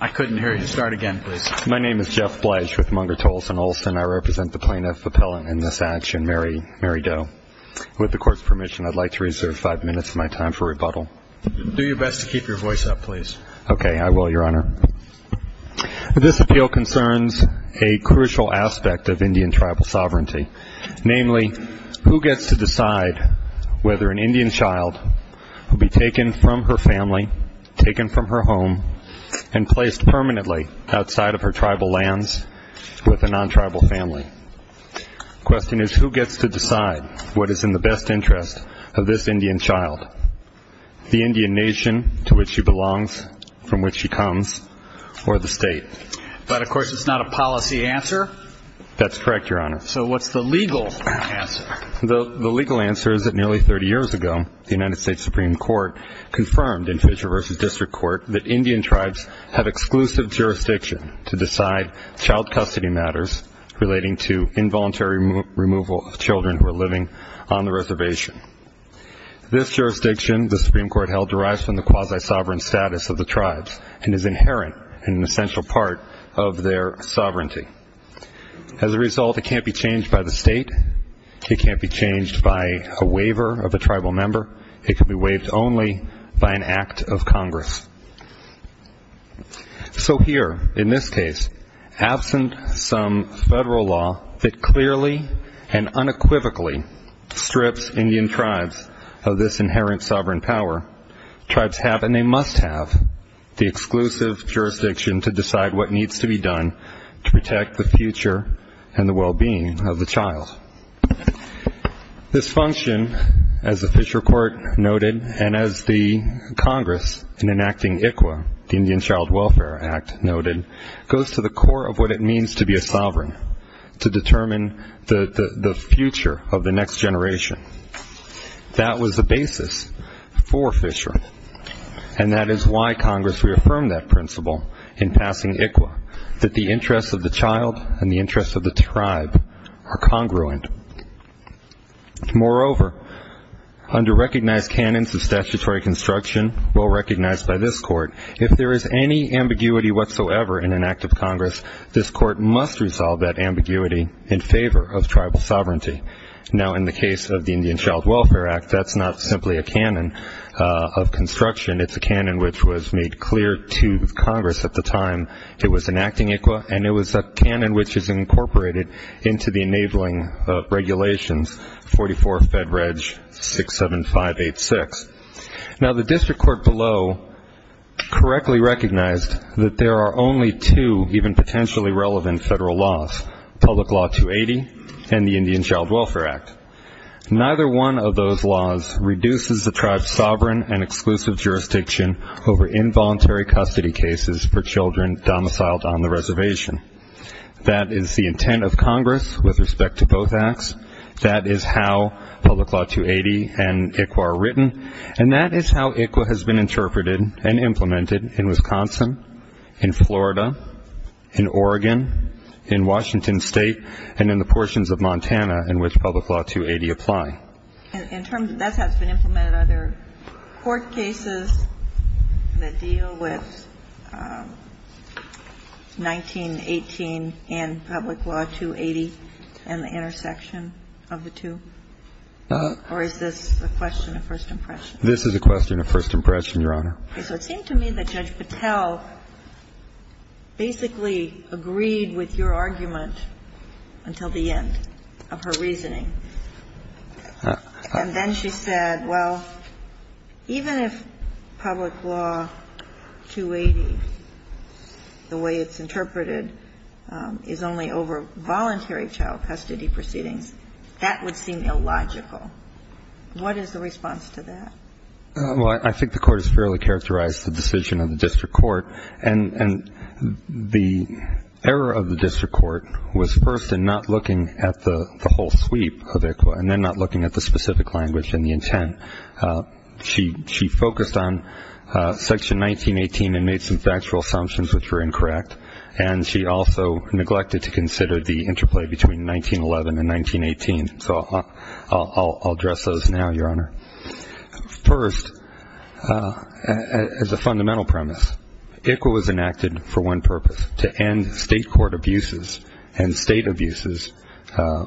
I couldn't hear you. Start again, please. My name is Jeff Bledge with Munger Tolson Olsen. I represent the plaintiff appellant in this action, Mary Doe. With the Court's permission, I'd like to reserve five minutes of my time for rebuttal. Do your best to keep your voice up, please. Okay. I will, Your Honor. This appeal concerns a crucial aspect of Indian tribal sovereignty, namely who gets to decide whether an Indian child will be taken from her family, taken from her home, and placed permanently outside of her tribal lands with a non-tribal family. The question is who gets to decide what is in the best interest of this Indian child, the Indian nation to which she belongs, from which she comes, or the state. But, of course, it's not a policy answer. That's correct, Your Honor. So what's the legal answer? The legal answer is that nearly 30 years ago, the United States Supreme Court confirmed in Fisher v. District Court that Indian tribes have exclusive jurisdiction to decide child custody matters relating to involuntary removal of children who are living on the reservation. This jurisdiction the Supreme Court held derives from the quasi-sovereign status of the tribes and is inherent and an essential part of their sovereignty. As a result, it can't be changed by the state. It can't be changed by a waiver of a tribal member. It can be waived only by an act of Congress. So here, in this case, absent some federal law that clearly and unequivocally strips Indian tribes of this inherent sovereign power, tribes have, and they must have, the exclusive jurisdiction to decide what needs to be done to protect the future and the well-being of the child. This function, as the Fisher Court noted and as the Congress in enacting ICWA, the Indian Child Welfare Act, noted, goes to the core of what it means to be a sovereign, to determine the future of the next generation. That was the basis for Fisher, and that is why Congress reaffirmed that principle in passing ICWA, that the interests of the child and the interests of the tribe are congruent. Moreover, under recognized canons of statutory construction, well recognized by this court, if there is any ambiguity whatsoever in an act of Congress, this court must resolve that ambiguity in favor of tribal sovereignty. Now, in the case of the Indian Child Welfare Act, that's not simply a canon of construction. It's a canon which was made clear to Congress at the time it was enacting ICWA, and it was a canon which is incorporated into the enabling regulations, 44 Fed Reg 67586. Now, the district court below correctly recognized that there are only two even potentially relevant federal laws, Public Law 280 and the Indian Child Welfare Act. Neither one of those laws reduces the tribe's sovereign and exclusive jurisdiction over involuntary custody cases for children domiciled on the reservation. That is the intent of Congress with respect to both acts. That is how Public Law 280 and ICWA are written, and that is how ICWA has been interpreted and implemented in Wisconsin, in Florida, in Oregon, in Washington State, and in the portions of Montana in which Public Law 280 apply. And in terms of that has been implemented, are there court cases that deal with 1918 and Public Law 280 and the intersection of the two? Or is this a question of first impression? This is a question of first impression, Your Honor. And so it seemed to me that Judge Patel basically agreed with your argument until the end of her reasoning. And then she said, well, even if Public Law 280, the way it's interpreted, is only over voluntary child custody proceedings, that would seem illogical. What is the response to that? Well, I think the court has fairly characterized the decision of the district court. And the error of the district court was first in not looking at the whole sweep of ICWA and then not looking at the specific language and the intent. She focused on Section 1918 and made some factual assumptions which were incorrect, and she also neglected to consider the interplay between 1911 and 1918. So I'll address those now, Your Honor. First, as a fundamental premise, ICWA was enacted for one purpose, to end state court abuses and state abuses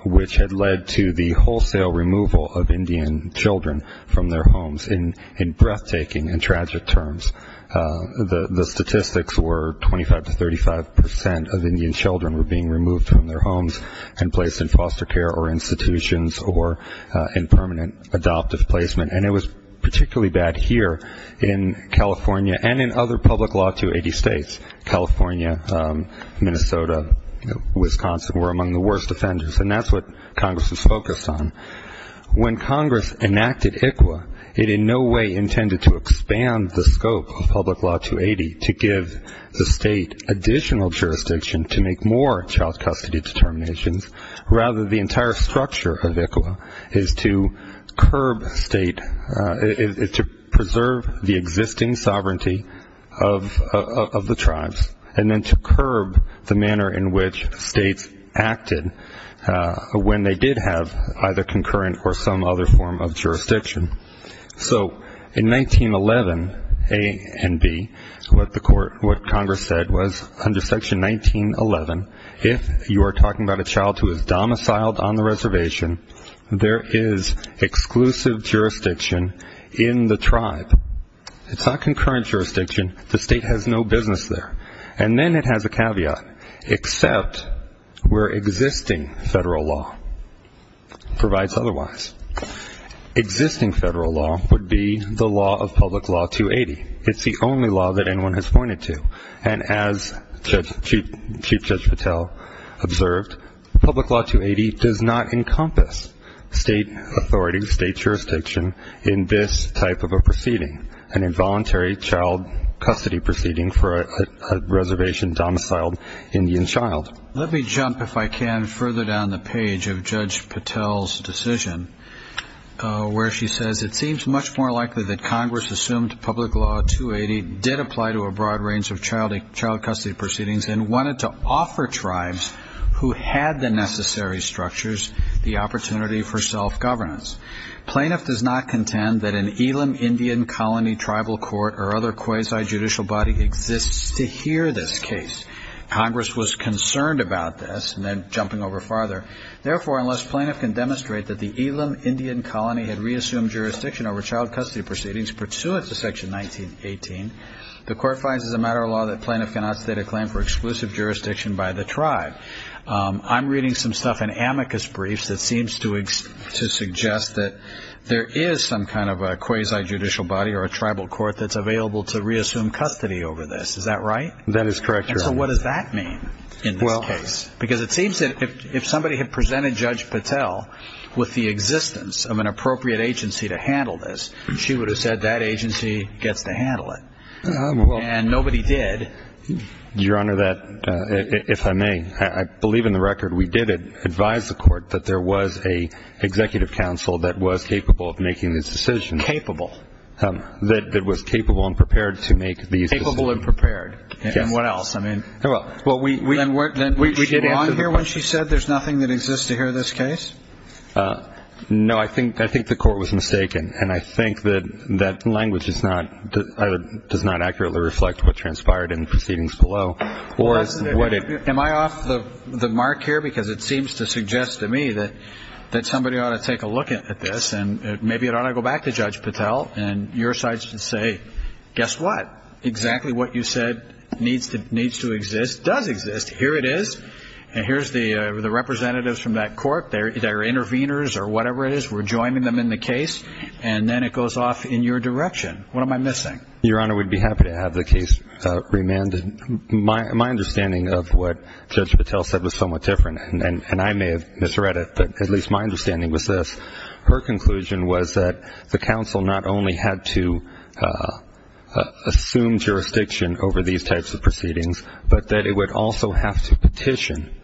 which had led to the wholesale removal of Indian children from their homes in breathtaking and tragic terms. The statistics were 25 to 35 percent of Indian children were being removed from their homes and placed in foster care or institutions or in permanent adoptive placement. And it was particularly bad here in California and in other Public Law 280 states. California, Minnesota, Wisconsin were among the worst offenders, and that's what Congress was focused on. When Congress enacted ICWA, it in no way intended to expand the scope of Public Law 280 to give the state additional jurisdiction to make more child custody determinations. Rather, the entire structure of ICWA is to curb state, is to preserve the existing sovereignty of the tribes, and then to curb the manner in which states acted when they did have either concurrent or some other form of jurisdiction. So in 1911 A and B, what Congress said was under Section 1911, if you are talking about a child who is domiciled on the reservation, there is exclusive jurisdiction in the tribe. It's not concurrent jurisdiction. The state has no business there. And then it has a caveat, except where existing federal law provides otherwise. Existing federal law would be the law of Public Law 280. It's the only law that anyone has pointed to. And as Chief Judge Patel observed, Public Law 280 does not encompass state authority, state jurisdiction in this type of a proceeding, an involuntary child custody proceeding for a reservation domiciled Indian child. Let me jump, if I can, further down the page of Judge Patel's decision, where she says it seems much more likely that Congress assumed Public Law 280 did apply to a broad range of child custody proceedings and wanted to offer tribes who had the necessary structures the opportunity for self-governance. Plaintiff does not contend that an Elam Indian Colony Tribal Court or other quasi-judicial body exists to hear this case. Congress was concerned about this, and then jumping over farther, therefore, unless plaintiff can demonstrate that the Elam Indian Colony had reassumed jurisdiction over child custody proceedings pursuant to Section 1918, the court finds as a matter of law that plaintiff cannot state a claim for exclusive jurisdiction by the tribe. I'm reading some stuff in amicus briefs that seems to suggest that there is some kind of a quasi-judicial body or a tribal court that's available to reassume custody over this. Is that right? That is correct, Your Honor. And so what does that mean in this case? Because it seems that if somebody had presented Judge Patel with the existence of an appropriate agency to handle this, she would have said that agency gets to handle it. And nobody did. Your Honor, if I may, I believe in the record we did advise the court that there was an executive council that was capable of making this decision. Capable. That was capable and prepared to make these decisions. Capable and prepared. Yes. And what else? I mean, well, we did answer the question. Was she wrong here when she said there's nothing that exists to hear in this case? No. I think the court was mistaken. And I think that language does not accurately reflect what transpired in the proceedings below. Am I off the mark here? Because it seems to suggest to me that somebody ought to take a look at this and maybe it ought to go back to Judge Patel and your side should say, guess what? Exactly what you said needs to exist does exist. Here it is. And here's the representatives from that court. They're interveners or whatever it is. We're joining them in the case. And then it goes off in your direction. What am I missing? Your Honor, we'd be happy to have the case remanded. My understanding of what Judge Patel said was somewhat different, and I may have misread it, but at least my understanding was this. Her conclusion was that the counsel not only had to assume jurisdiction over these types of proceedings, but that it would also have to petition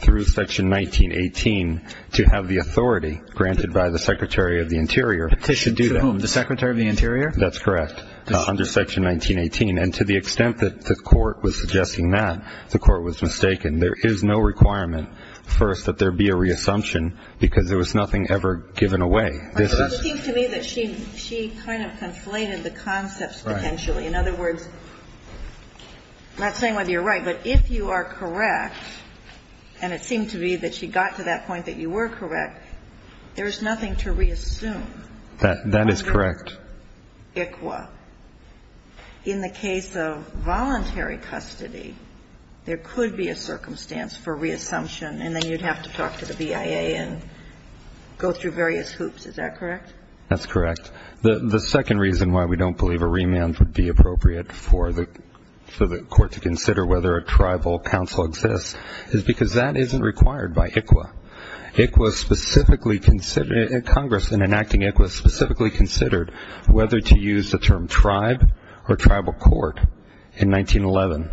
through Section 1918 to have the authority, granted by the Secretary of the Interior, to do that. Petition to whom? The Secretary of the Interior? That's correct, under Section 1918. And to the extent that the court was suggesting that, the court was mistaken. There is no requirement, first, that there be a reassumption, because there was nothing ever given away. It seems to me that she kind of conflated the concepts potentially. In other words, I'm not saying whether you're right, but if you are correct, and it seemed to me that she got to that point that you were correct, there's nothing to reassume. That is correct. ICCWA. In the case of voluntary custody, there could be a circumstance for reassumption, and then you'd have to talk to the BIA and go through various hoops. Is that correct? That's correct. The second reason why we don't believe a remand would be appropriate for the court to consider Congress, in enacting ICCWA, specifically considered whether to use the term tribe or tribal court in 1911.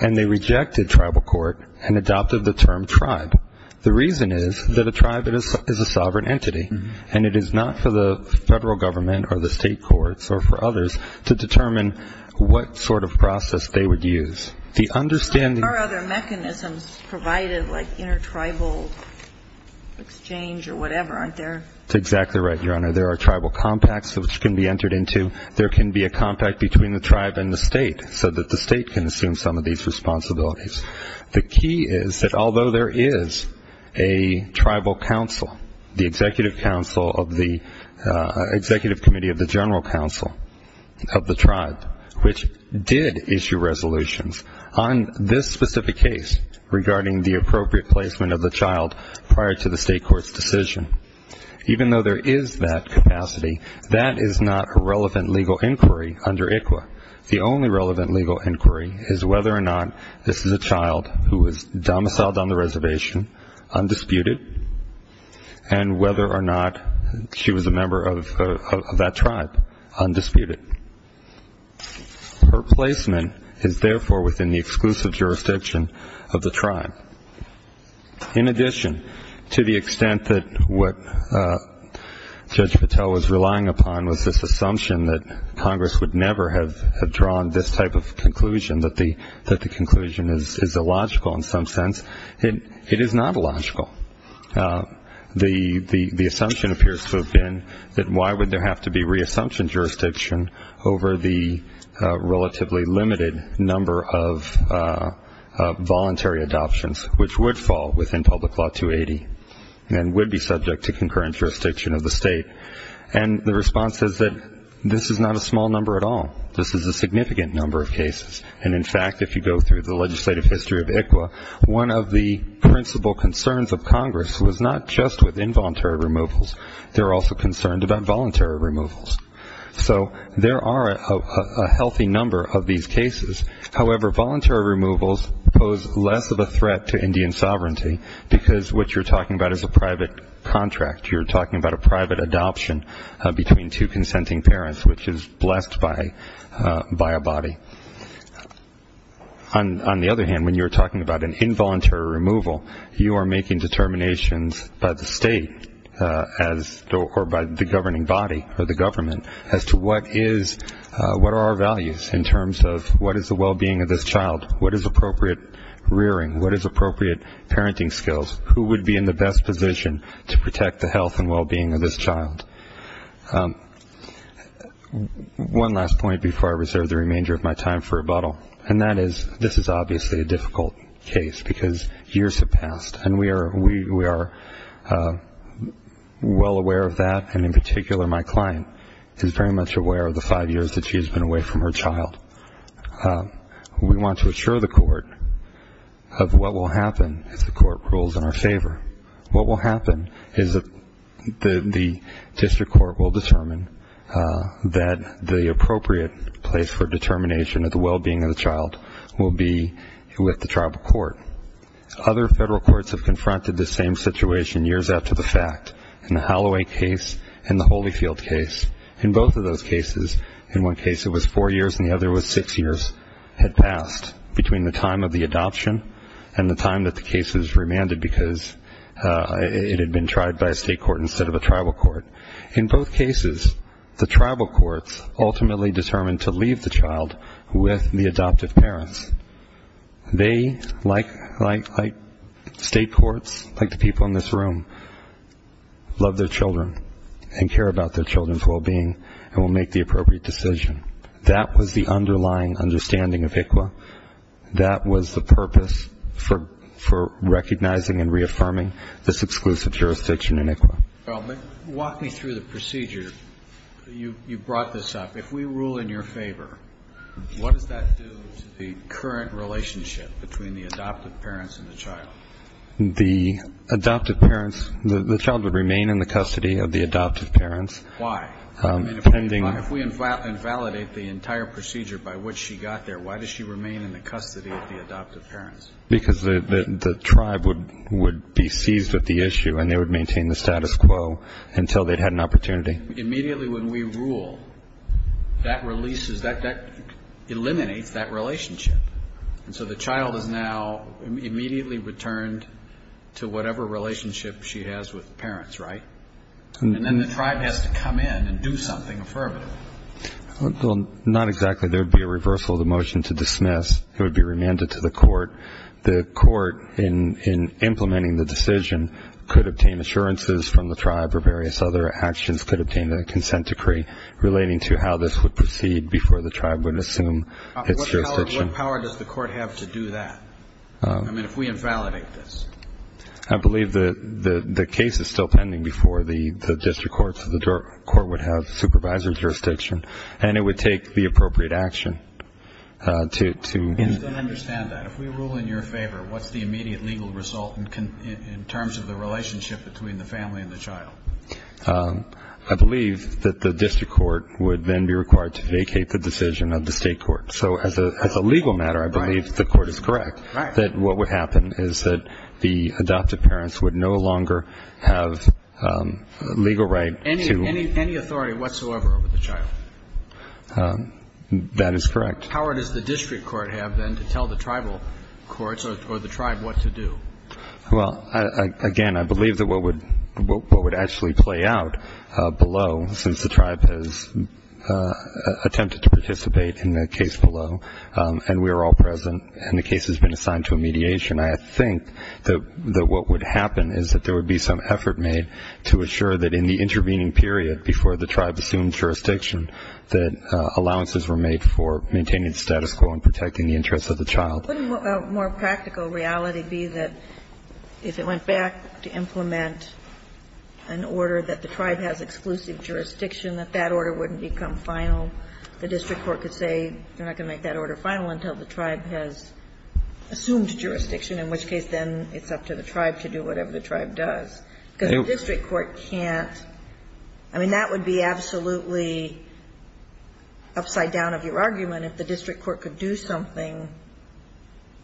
And they rejected tribal court and adopted the term tribe. The reason is that a tribe is a sovereign entity, and it is not for the federal government or the state courts or for others to determine what sort of process they would use. There are other mechanisms provided, like intertribal exchange or whatever, aren't there? That's exactly right, Your Honor. There are tribal compacts which can be entered into. There can be a compact between the tribe and the state so that the state can assume some of these responsibilities. The key is that although there is a tribal council, the executive committee of the general council of the tribe, which did issue resolutions on this specific case regarding the appropriate placement of the child prior to the state court's decision, even though there is that capacity, that is not a relevant legal inquiry under ICCWA. The only relevant legal inquiry is whether or not this is a child who was domiciled on the reservation, undisputed, and whether or not she was a member of that tribe, undisputed. Her placement is therefore within the exclusive jurisdiction of the tribe. In addition, to the extent that what Judge Patel was relying upon was this assumption that Congress would never have drawn this type of conclusion, that the conclusion is illogical in some sense. It is not illogical. The assumption appears to have been that why would there have to be re-assumption jurisdiction over the relatively limited number of voluntary adoptions, which would fall within Public Law 280 and would be subject to concurrent jurisdiction of the state. And the response is that this is not a small number at all. This is a significant number of cases. And, in fact, if you go through the legislative history of ICCWA, one of the principal concerns of Congress was not just with involuntary removals. They were also concerned about voluntary removals. So there are a healthy number of these cases. However, voluntary removals pose less of a threat to Indian sovereignty because what you're talking about is a private contract. You're talking about a private adoption between two consenting parents, which is blessed by a body. On the other hand, when you're talking about an involuntary removal, you are making determinations by the state or by the governing body or the government as to what are our values in terms of what is the well-being of this child, what is appropriate rearing, what is appropriate parenting skills, who would be in the best position to protect the health and well-being of this child. One last point before I reserve the remainder of my time for rebuttal, and that is this is obviously a difficult case because years have passed, and we are well aware of that, and in particular my client is very much aware of the five years that she has been away from her child. We want to assure the court of what will happen if the court rules in our favor. What will happen is the district court will determine that the appropriate place for determination of the well-being of the child will be with the tribal court. Other federal courts have confronted this same situation years after the fact, in the Holloway case and the Holyfield case. In both of those cases, in one case it was four years and the other was six years had passed between the time of the adoption and the time that the case was remanded because it had been tried by a state court instead of a tribal court. In both cases, the tribal courts ultimately determined to leave the child with the adoptive parents. They, like state courts, like the people in this room, love their children and care about their children's well-being and will make the appropriate decision. That was the underlying understanding of ICWA. That was the purpose for recognizing and reaffirming this exclusive jurisdiction in ICWA. Walk me through the procedure. You brought this up. If we rule in your favor, what does that do to the current relationship between the adoptive parents and the child? The adoptive parents, the child would remain in the custody of the adoptive parents. Why? If we invalidate the entire procedure by which she got there, why does she remain in the custody of the adoptive parents? Because the tribe would be seized with the issue and they would maintain the status quo until they'd had an opportunity. Immediately when we rule, that releases, that eliminates that relationship. And so the child is now immediately returned to whatever relationship she has with the parents, right? And then the tribe has to come in and do something affirmative. Well, not exactly. There would be a reversal of the motion to dismiss. It would be remanded to the court. The court, in implementing the decision, could obtain assurances from the tribe or various other actions, could obtain a consent decree relating to how this would proceed before the tribe would assume its jurisdiction. What power does the court have to do that? I mean, if we invalidate this. I believe the case is still pending before the district court, so the court would have supervisory jurisdiction and it would take the appropriate action to... I still don't understand that. If we rule in your favor, what's the immediate legal result in terms of the relationship between the family and the child? I believe that the district court would then be required to vacate the decision of the state court. So as a legal matter, I believe the court is correct. Right. That what would happen is that the adoptive parents would no longer have legal right to... Any authority whatsoever over the child. That is correct. How does the district court have then to tell the tribal courts or the tribe what to do? Well, again, I believe that what would actually play out below, since the tribe has attempted to participate in the case below, and we are all present and the case has been assigned to a mediation, I think that what would happen is that there would be some effort made to assure that in the intervening period before the tribe assumed jurisdiction that allowances were made for maintaining the status quo and protecting the interests of the child. Well, couldn't a more practical reality be that if it went back to implement an order that the tribe has exclusive jurisdiction, that that order wouldn't become final? The district court could say they're not going to make that order final until the tribe has assumed jurisdiction, in which case then it's up to the tribe to do whatever the tribe does, because the district court can't. I mean, that would be absolutely upside down of your argument if the district court could do something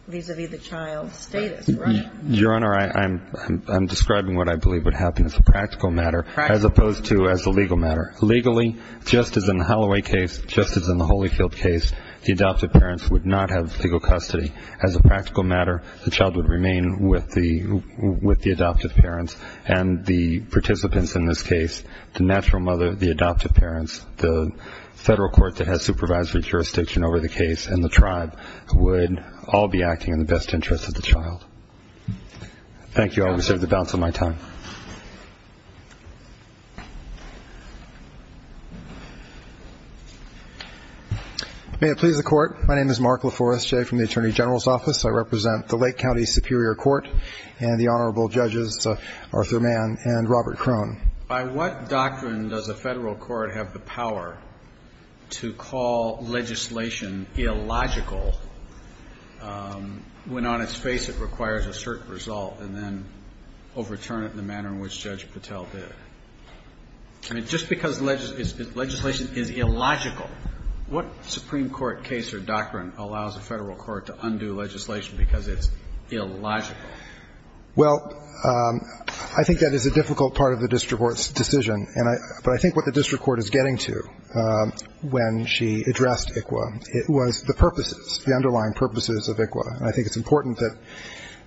vis-a-vis the child's status, right? Your Honor, I'm describing what I believe would happen as a practical matter as opposed to as a legal matter. Legally, just as in the Holloway case, just as in the Holyfield case, the adoptive parents would not have legal custody. As a practical matter, the child would remain with the adoptive parents, and the participants in this case, the natural mother, the adoptive parents, the federal court that has supervisory jurisdiction over the case, and the tribe would all be acting in the best interest of the child. Thank you. I will reserve the balance of my time. May it please the Court. My name is Mark LaForestier from the Attorney General's Office. I represent the Lake County Superior Court and the Honorable Judges Arthur Mann and Robert Crone. By what doctrine does a federal court have the power to call legislation illogical when on its face it requires a certain result and then overturn it in the manner in which Judge Patel did? I mean, just because legislation is illogical, what Supreme Court case or doctrine allows a federal court to undo legislation because it's illogical? Well, I think that is a difficult part of the district court's decision. But I think what the district court is getting to when she addressed ICWA was the purposes, the underlying purposes of ICWA. And I think it's important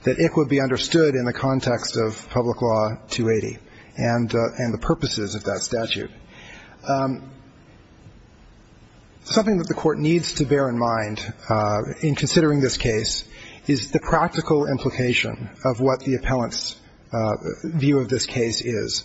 that ICWA be understood in the context of Public Law 280 and the purposes of that statute. Something that the Court needs to bear in mind in considering this case is the practical implication of what the appellant's view of this case is.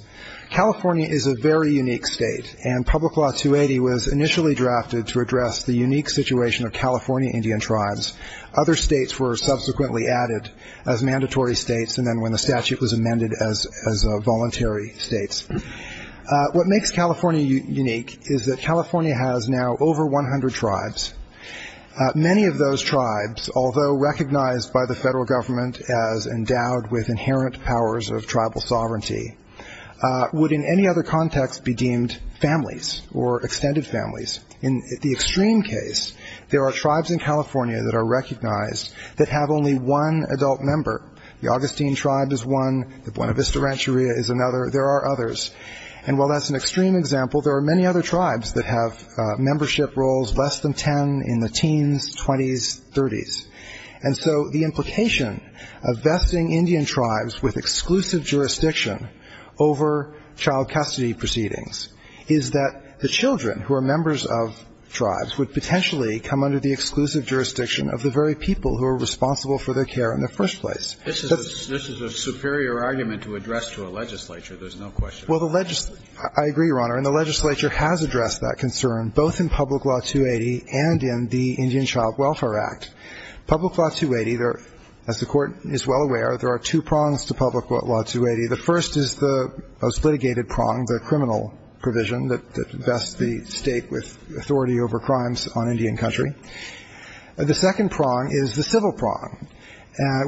California is a very unique state. And Public Law 280 was initially drafted to address the unique situation of California Indian tribes. Other states were subsequently added as mandatory states and then when the statute was amended as voluntary states. What makes California unique is that California has now over 100 tribes. Many of those tribes, although recognized by the federal government as endowed with inherent powers of tribal sovereignty, would in any other context be deemed families or extended families. In the extreme case, there are tribes in California that are recognized that have only one adult member. The Augustine tribe is one. The Buena Vista Rancheria is another. There are others. And while that's an extreme example, there are many other tribes that have membership roles less than 10 in the teens, 20s, 30s. And so the implication of vesting Indian tribes with exclusive jurisdiction over child custody proceedings is that the children who are members of tribes would potentially come under the exclusive jurisdiction of the very people who are responsible for their care in the first place. This is a superior argument to address to a legislature. There's no question. Well, I agree, Your Honor, and the legislature has addressed that concern, both in Public Law 280 and in the Indian Child Welfare Act. Public Law 280, as the Court is well aware, there are two prongs to Public Law 280. The first is the most litigated prong, the criminal provision that vests the state with authority over crimes on Indian country. The second prong is the civil prong.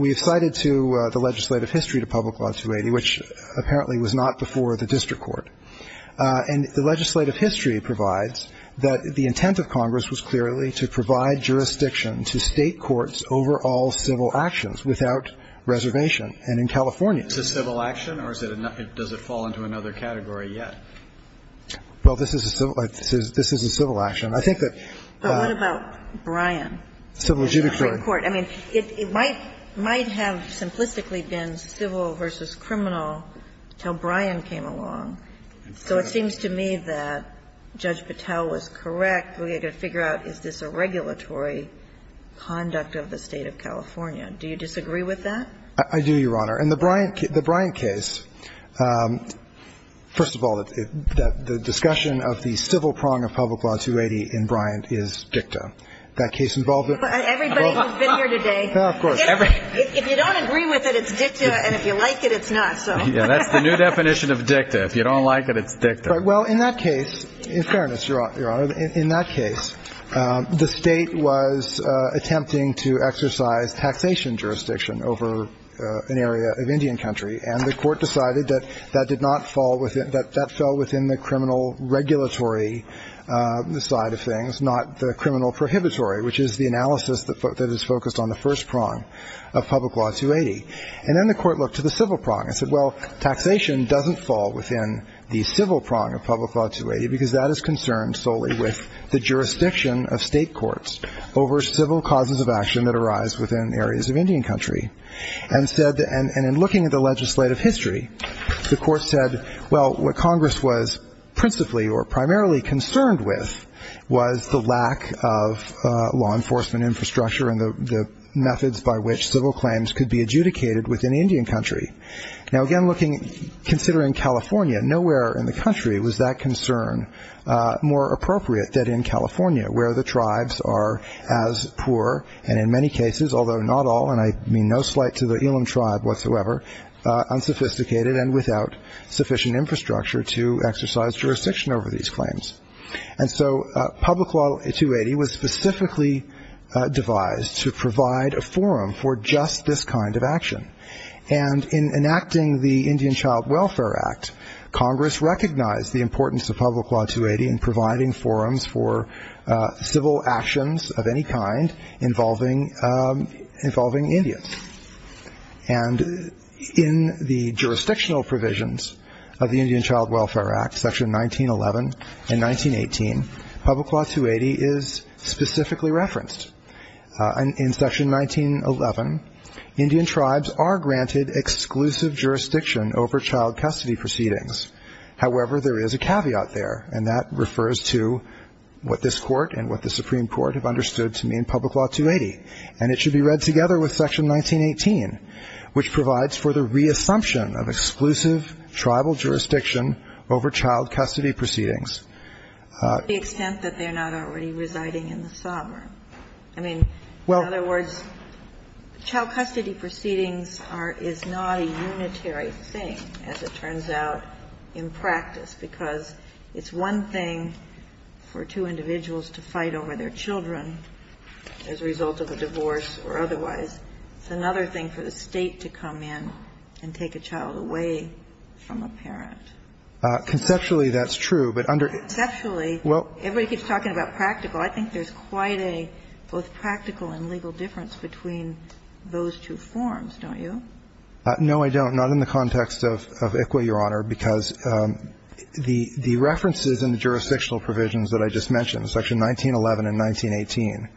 We have cited to the legislative history to Public Law 280, which apparently was not before the district court, and the legislative history provides that the intent of Congress was clearly to provide jurisdiction to state courts over all civil actions without reservation, and in California. Is this a civil action, or does it fall into another category yet? Well, this is a civil action. I think that the What about Bryan? Civil adjudicatory. It might have simplistically been civil versus criminal until Bryan came along. So it seems to me that Judge Patel was correct. We have to figure out, is this a regulatory conduct of the State of California? Do you disagree with that? I do, Your Honor. In the Bryan case, first of all, the discussion of the civil prong of Public Law 280 in Bryan is dicta. That case involves Everybody who's been here today. Of course. If you don't agree with it, it's dicta, and if you like it, it's not. That's the new definition of dicta. If you don't like it, it's dicta. Well, in that case, in fairness, Your Honor, in that case, the State was attempting to exercise taxation jurisdiction over an area of Indian country, and the court decided that that did not fall within, that fell within the criminal regulatory side of things, not the criminal prohibitory, which is the analysis that is focused on the first prong of Public Law 280. And then the court looked to the civil prong and said, well, taxation doesn't fall within the civil prong of Public Law 280 because that is concerned solely with the jurisdiction of State courts over civil causes of action that arise within areas of Indian country. And in looking at the legislative history, the court said, well, what Congress was principally or primarily concerned with was the lack of law enforcement infrastructure and the methods by which civil claims could be adjudicated within Indian country. Now, again, considering California, nowhere in the country was that concern more appropriate than in California, where the tribes are as poor, and in many cases, although not all, and I mean no slight to the Elam tribe whatsoever, unsophisticated and without sufficient infrastructure to exercise jurisdiction over these claims. And so Public Law 280 was specifically devised to provide a forum for just this kind of action. And in enacting the Indian Child Welfare Act, Congress recognized the importance of Public Law 280 in providing forums for civil actions of any kind involving Indians. And in the jurisdictional provisions of the Indian Child Welfare Act, Section 1911 and 1918, Public Law 280 is specifically referenced. In Section 1911, Indian tribes are granted exclusive jurisdiction over child custody proceedings. However, there is a caveat there, and that refers to what this Court and what the Supreme Court have understood to mean in Public Law 280, and it should be are unitary. The Supreme Court has ruled in Section 1911 and 1918, which provides for the reassumption of exclusive tribal jurisdiction over child custody proceedings. The extent that they're not already residing in the sovereign. I mean, in other words, child custody proceedings is not a unitary thing, as it turns out, in practice, because it's one thing for two individuals to fight over their children as a result of a divorce or otherwise. It's another thing for the State to come in and take a child away from a parent. Conceptually, that's true, but under the ---- Conceptually, everybody keeps talking about practical. I think there's quite a both practical and legal difference between those two forms, don't you? No, I don't. Not in the context of ICWA, Your Honor, because the references in the jurisdictional provisions that I just mentioned, Section 1911 and 1918,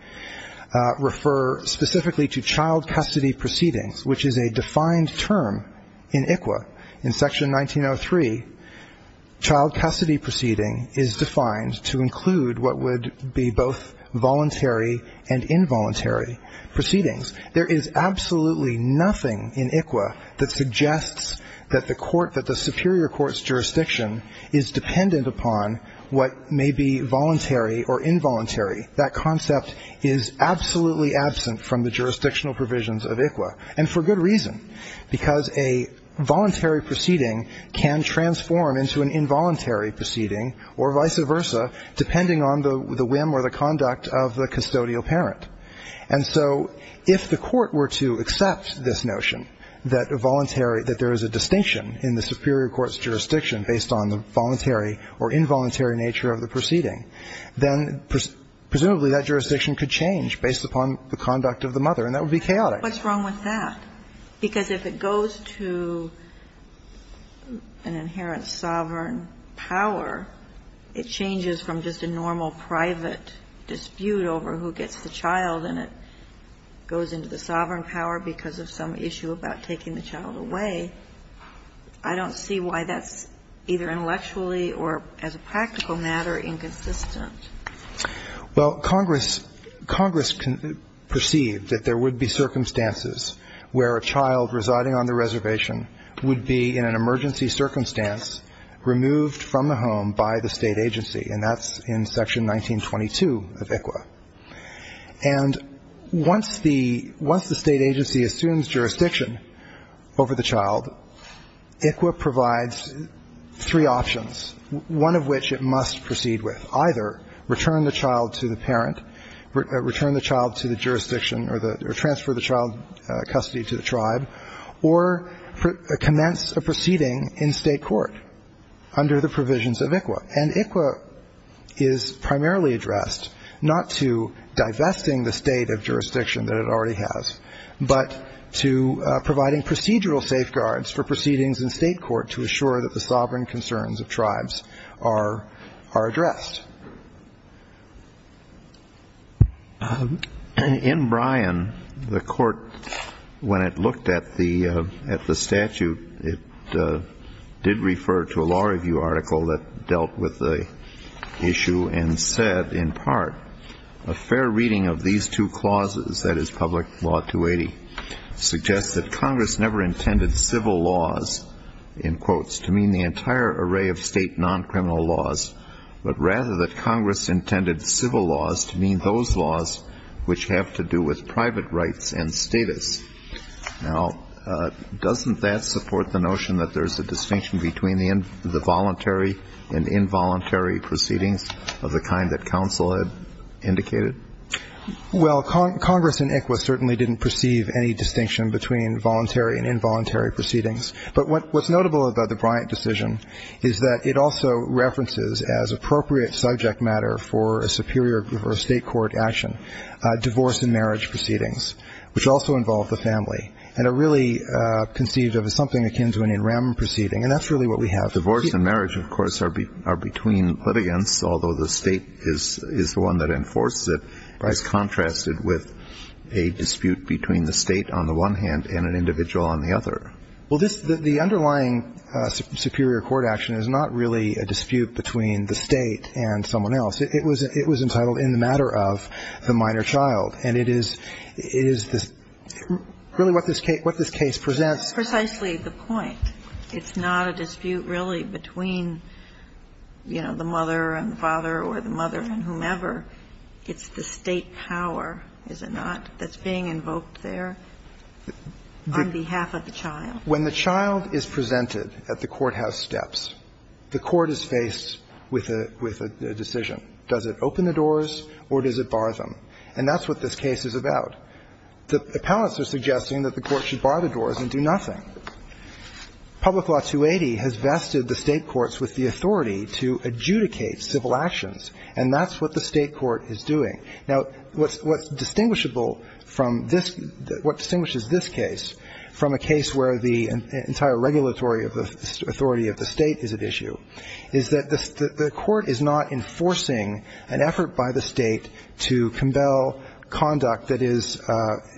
refer specifically to child custody proceedings, which is a defined term in ICWA. In Section 1903, child custody proceeding is defined to include what would be both voluntary and involuntary proceedings. There is absolutely nothing in ICWA that suggests that the court, that the superior court's jurisdiction is dependent upon what may be voluntary or involuntary. That concept is absolutely absent from the jurisdictional provisions of ICWA, and because a voluntary proceeding can transform into an involuntary proceeding or vice versa, depending on the whim or the conduct of the custodial parent. And so if the court were to accept this notion that voluntary, that there is a distinction in the superior court's jurisdiction based on the voluntary or involuntary nature of the proceeding, then presumably that jurisdiction could change based upon the conduct of the mother, and that would be chaotic. What's wrong with that? Because if it goes to an inherent sovereign power, it changes from just a normal private dispute over who gets the child, and it goes into the sovereign power because of some issue about taking the child away. I don't see why that's, either intellectually or as a practical matter, inconsistent. Well, Congress perceived that there would be circumstances where a child residing on the reservation would be in an emergency circumstance removed from the home by the State agency, and that's in Section 1922 of ICWA. And once the State agency assumes jurisdiction over the child, ICWA provides three options, one of which it must proceed with. Either return the child to the parent, return the child to the jurisdiction or transfer the child custody to the tribe, or commence a proceeding in State court under the provisions of ICWA. And ICWA is primarily addressed not to divesting the State of jurisdiction that it already has, but to providing procedural safeguards for proceedings in State court to assure that the sovereign concerns of tribes are addressed. In Bryan, the Court, when it looked at the statute, it did refer to a law review article that dealt with the issue and said, in part, a fair reading of these two clauses, that is, Public Law 280, suggests that Congress never intended civil laws, in quotes, to mean the entire array of State non-criminal laws, but rather that Congress intended civil laws to mean those laws which have to do with private rights and status. Now, doesn't that support the notion that there's a distinction between the voluntary and involuntary proceedings of the kind that counsel had indicated? Well, Congress in ICWA certainly didn't perceive any distinction between voluntary and involuntary proceedings. But what's notable about the Bryant decision is that it also references, as appropriate subject matter for a superior or a State court action, divorce and marriage proceedings, which also involve the family, and are really conceived of as something akin to an in rem proceeding. And that's really what we have. Divorce and marriage, of course, are between litigants, although the State is the one that enforces it. It's contrasted with a dispute between the State on the one hand and an individual on the other. Well, the underlying superior court action is not really a dispute between the State and someone else. It was entitled in the matter of the minor child. And it is really what this case presents. It's precisely the point. It's not a dispute really between, you know, the mother and the father or the mother and whomever. It's the State power, is it not, that's being invoked there on behalf of the child. When the child is presented at the courthouse steps, the court is faced with a decision. Does it open the doors or does it bar them? And that's what this case is about. The appellants are suggesting that the court should bar the doors and do nothing. Public Law 280 has vested the State courts with the authority to adjudicate civil actions. And that's what the State court is doing. Now, what's distinguishable from this, what distinguishes this case from a case where the entire regulatory authority of the State is at issue is that the court is not enforcing an effort by the State to compel conduct that is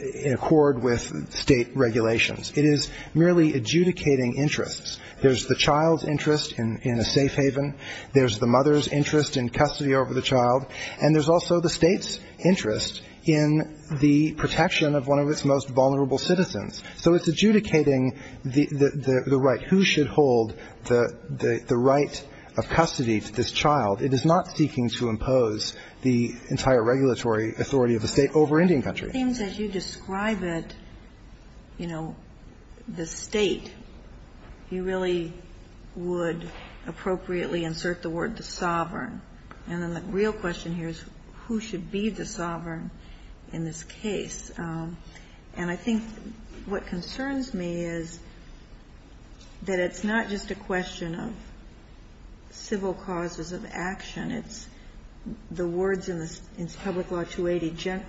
in accord with State regulations. It is merely adjudicating interests. There's the child's interest in a safe haven. There's the mother's interest in custody over the child. And there's also the State's interest in the protection of one of its most vulnerable citizens. So it's adjudicating the right. Who should hold the right of custody to this child? It is not seeking to impose the entire regulatory authority of the State over Indian country. Sotomayor, it seems as you describe it, you know, the State, you really would appropriately insert the word the sovereign. And then the real question here is who should be the sovereign in this case. And I think what concerns me is that it's not just a question of civil causes of action. It's the words in the Public Law 280,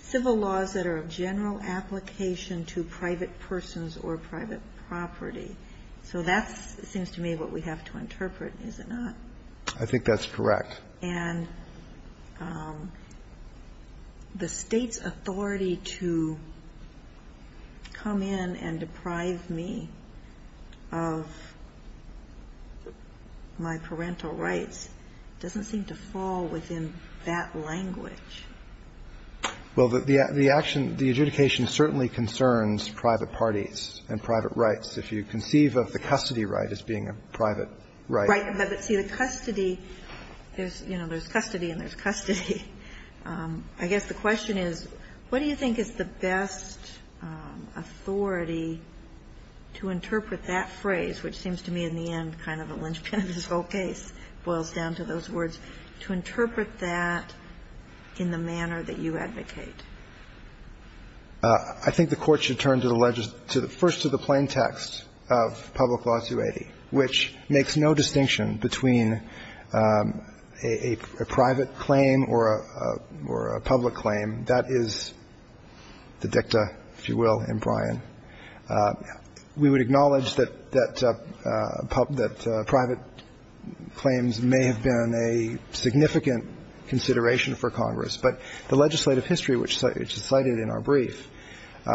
civil laws that are of general application to private persons or private property. So that seems to me what we have to interpret, is it not? I think that's correct. And the State's authority to come in and deprive me of my parental rights is a question of the State's authority to come in and deprive me of my parental rights. And I think that's a question that doesn't seem to fall within that language. Well, the action, the adjudication certainly concerns private parties and private rights. If you conceive of the custody right as being a private right. Right. But, see, the custody, there's, you know, there's custody and there's custody. I guess the question is, what do you think is the best authority to interpret that phrase, which seems to me in the end kind of a linchpin of this whole case, boils down to those words, to interpret that in the manner that you advocate? I think the Court should turn to the legislation, first to the plain text of Public Law 280, which makes no distinction between a private claim or a public claim. That is the dicta, if you will, in Bryan. We would acknowledge that private claims may have been a significant consideration for Congress, but the legislative history, which is cited in our brief,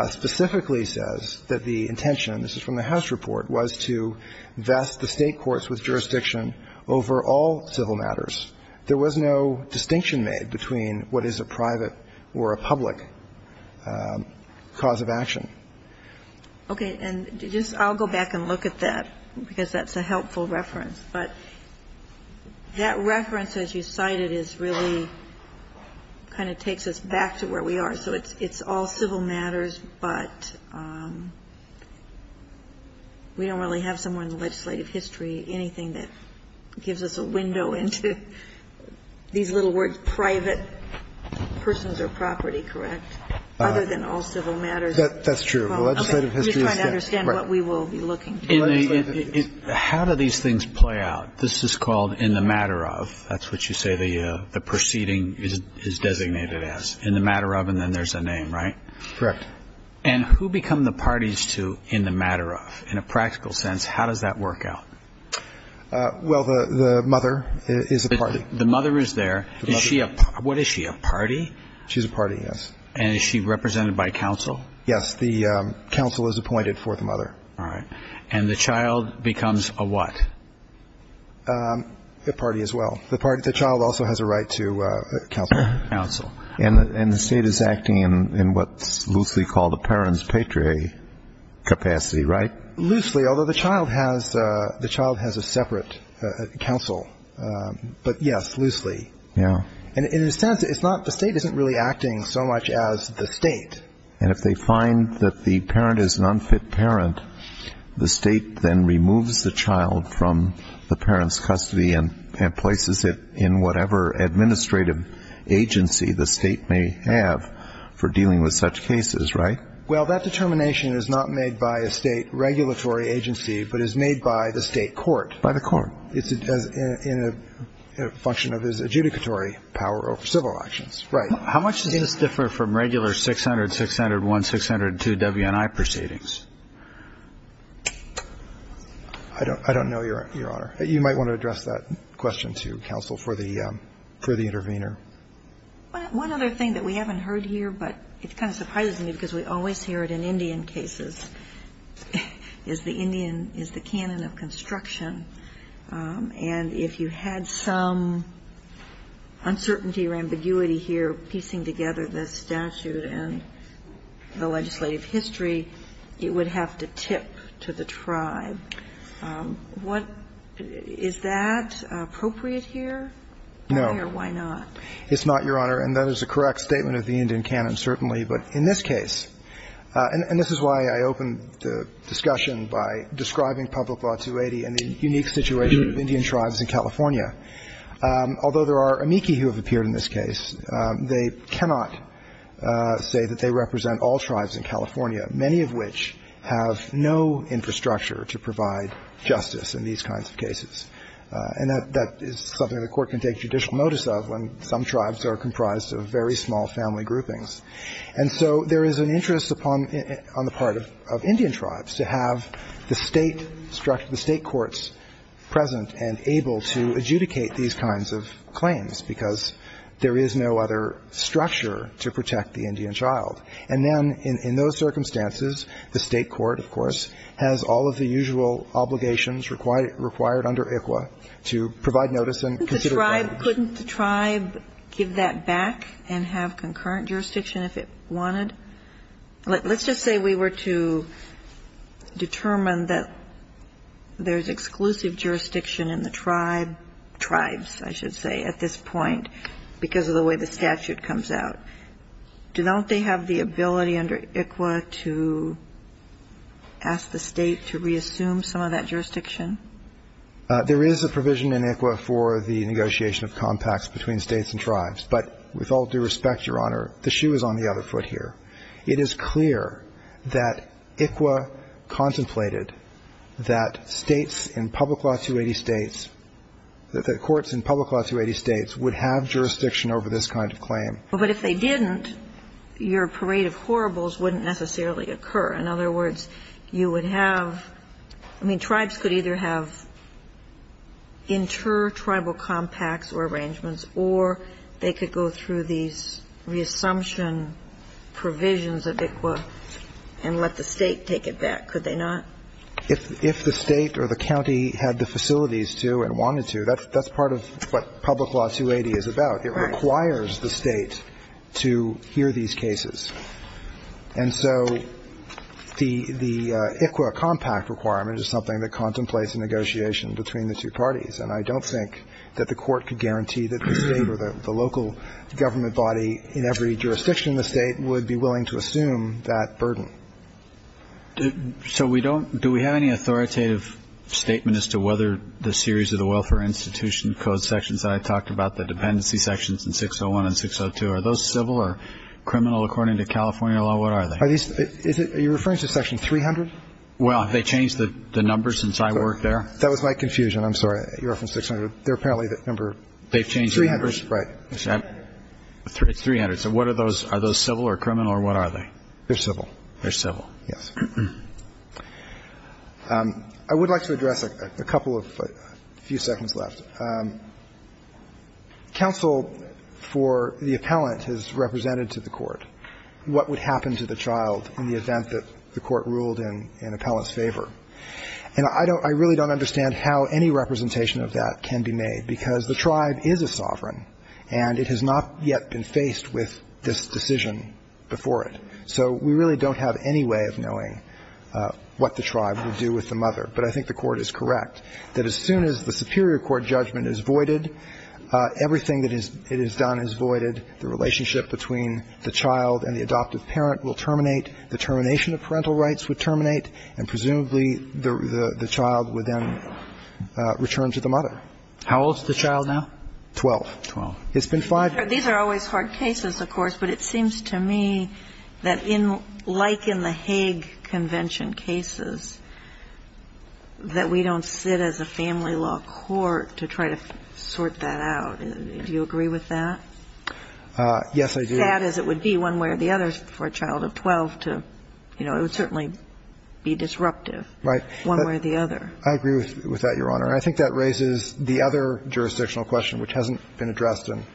specifically says that the intention, this is from the House report, was to vest the State courts with jurisdiction over all civil matters. There was no distinction made between what is a private or a public cause of action. Okay. And just I'll go back and look at that, because that's a helpful reference. But that reference, as you cited, is really kind of takes us back to where we are. So it's all civil matters, but we don't really have somewhere in the legislative history anything that gives us a window into these little words, private persons or property, correct, other than all civil matters. That's true. The legislative history is there. I'm just trying to understand what we will be looking for. How do these things play out? This is called in the matter of. That's what you say the proceeding is designated as, in the matter of, and then there's a name, right? Correct. And who become the parties to in the matter of? In a practical sense, how does that work out? Well, the mother is a party. The mother is there. What is she, a party? She's a party, yes. And is she represented by counsel? Yes. The counsel is appointed for the mother. All right. And the child becomes a what? A party as well. The child also has a right to counsel. And the state is acting in what's loosely called a parent's patriarchy capacity, right? Loosely, although the child has a separate counsel. But, yes, loosely. And in a sense, the state isn't really acting so much as the state. And if they find that the parent is an unfit parent, the state then removes the child from the parent's custody and places it in whatever administrative agency the state may have for dealing with such cases, right? Well, that determination is not made by a state regulatory agency, but is made by the state court. By the court. It's in a function of its adjudicatory power over civil actions. Right. How much does this differ from regular 600, 601, 602 WNI proceedings? I don't know, Your Honor. You might want to address that question to counsel for the intervener. One other thing that we haven't heard here, but it kind of surprises me because we always hear it in Indian cases, is the Indian is the canon of construction. And if you had some uncertainty or ambiguity here piecing together the statute and the legislative history, it would have to tip to the tribe. Is that appropriate here? No. Or why not? It's not, Your Honor. And that is a correct statement of the Indian canon certainly. But in this case, and this is why I opened the discussion by describing Public Law 280 and the unique situation of Indian tribes in California. Although there are amici who have appeared in this case, they cannot say that they represent all tribes in California, many of which have no infrastructure to provide justice in these kinds of cases. And that is something the Court can take judicial notice of when some tribes are comprised of very small family groupings. And so there is an interest upon the part of Indian tribes to have the State courts present and able to adjudicate these kinds of claims, because there is no other structure to protect the Indian child. And then in those circumstances, the State court, of course, has all of the usual obligations required under ICWA to provide notice and consider that. Couldn't the tribe give that back and have concurrent jurisdiction if it wanted? Let's just say we were to determine that there is exclusive jurisdiction in the tribe, tribes, I should say, at this point because of the way the statute comes out. Don't they have the ability under ICWA to ask the State to reassume some of that jurisdiction? There is a provision in ICWA for the negotiation of compacts between States and tribes. But with all due respect, Your Honor, the shoe is on the other foot here. It is clear that ICWA contemplated that States in Public Law 280 States, that the courts in Public Law 280 States would have jurisdiction over this kind of claim. But if they didn't, your parade of horribles wouldn't necessarily occur. In other words, you would have – I mean, tribes could either have inter-tribal compacts or arrangements or they could go through these reassumption provisions of ICWA and let the State take it back, could they not? If the State or the county had the facilities to and wanted to, that's part of what Public Law 280 is about. It requires the State to hear these cases. And so the ICWA compact requirement is something that contemplates a negotiation between the two parties. And I don't think that the Court could guarantee that the State or the local government body in every jurisdiction in the State would be willing to assume that burden. So we don't – do we have any authoritative statement as to whether the series of the Are those civil or criminal according to California law? What are they? Are these – are you referring to Section 300? Well, have they changed the numbers since I worked there? That was my confusion. I'm sorry. You're referring to 600. They're apparently the number 300. They've changed the numbers? Right. It's 300. So what are those? Are those civil or criminal or what are they? They're civil. They're civil. Yes. I would like to address a couple of – a few seconds left. Counsel for the appellant has represented to the Court what would happen to the child in the event that the Court ruled in appellant's favor. And I don't – I really don't understand how any representation of that can be made, because the tribe is a sovereign, and it has not yet been faced with this decision before it. So we really don't have any way of knowing what the tribe would do with the mother. But I think the Court is correct that as soon as the superior court judgment is voided, everything that it has done is voided. The relationship between the child and the adoptive parent will terminate. The termination of parental rights would terminate. And presumably, the child would then return to the mother. How old is the child now? Twelve. Twelve. It's been five years. These are always hard cases, of course. But it seems to me that in – like in the Hague Convention cases, that we don't sit as a family law court to try to sort that out. Do you agree with that? Yes, I do. Sad as it would be one way or the other for a child of 12 to – you know, it would certainly be disruptive. Right. One way or the other. I agree with that, Your Honor. And I think that raises the other jurisdictional question, which hasn't been addressed and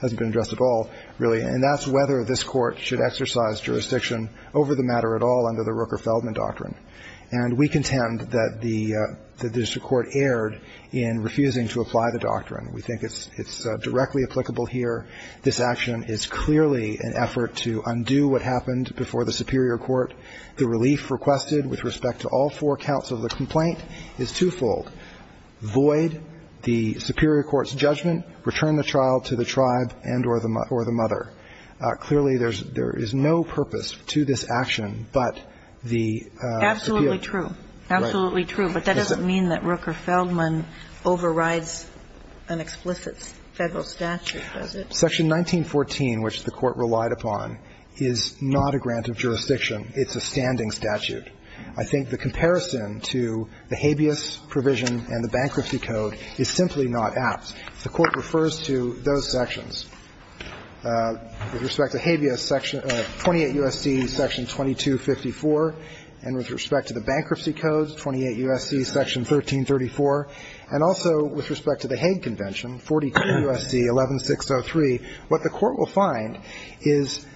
hasn't been addressed at all, really. And that's whether this Court should exercise jurisdiction over the matter at all under the Rooker-Feldman Doctrine. And we contend that the district court erred in refusing to apply the doctrine. We think it's directly applicable here. This action is clearly an effort to undo what happened before the superior court. The relief requested with respect to all four counts of the complaint is twofold. First, void the superior court's judgment, return the child to the tribe and or the mother. Clearly, there is no purpose to this action but the appeal. Absolutely true. Absolutely true. But that doesn't mean that Rooker-Feldman overrides an explicit Federal statute, does it? Section 1914, which the Court relied upon, is not a grant of jurisdiction. It's a standing statute. I think the comparison to the habeas provision and the bankruptcy code is simply not apt. The Court refers to those sections. With respect to habeas, 28 U.S.C. section 2254. And with respect to the bankruptcy codes, 28 U.S.C. section 1334. And also with respect to the Hague Convention, 42 U.S.C. 11603, what the Court will find is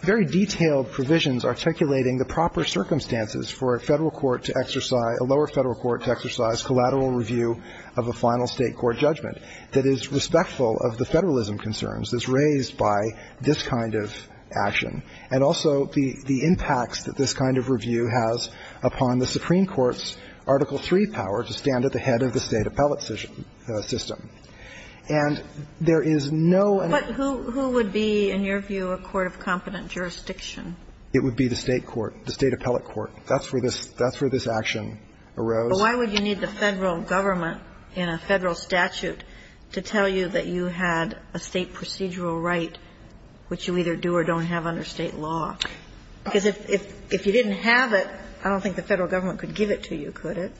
very detailed provisions articulating the proper circumstances for a Federal court to exercise, a lower Federal court to exercise collateral review of a final State court judgment that is respectful of the Federalism concerns that's raised by this kind of action, and also the impacts that this kind of review has upon the Supreme Court's Article III power to stand at the head of the State appellate decision system. And there is no and no. But who would be, in your view, a court of competent jurisdiction? It would be the State court, the State appellate court. That's where this action arose. But why would you need the Federal government in a Federal statute to tell you that you had a State procedural right which you either do or don't have under State law? Because if you didn't have it, I don't think the Federal government could give it to you, could it?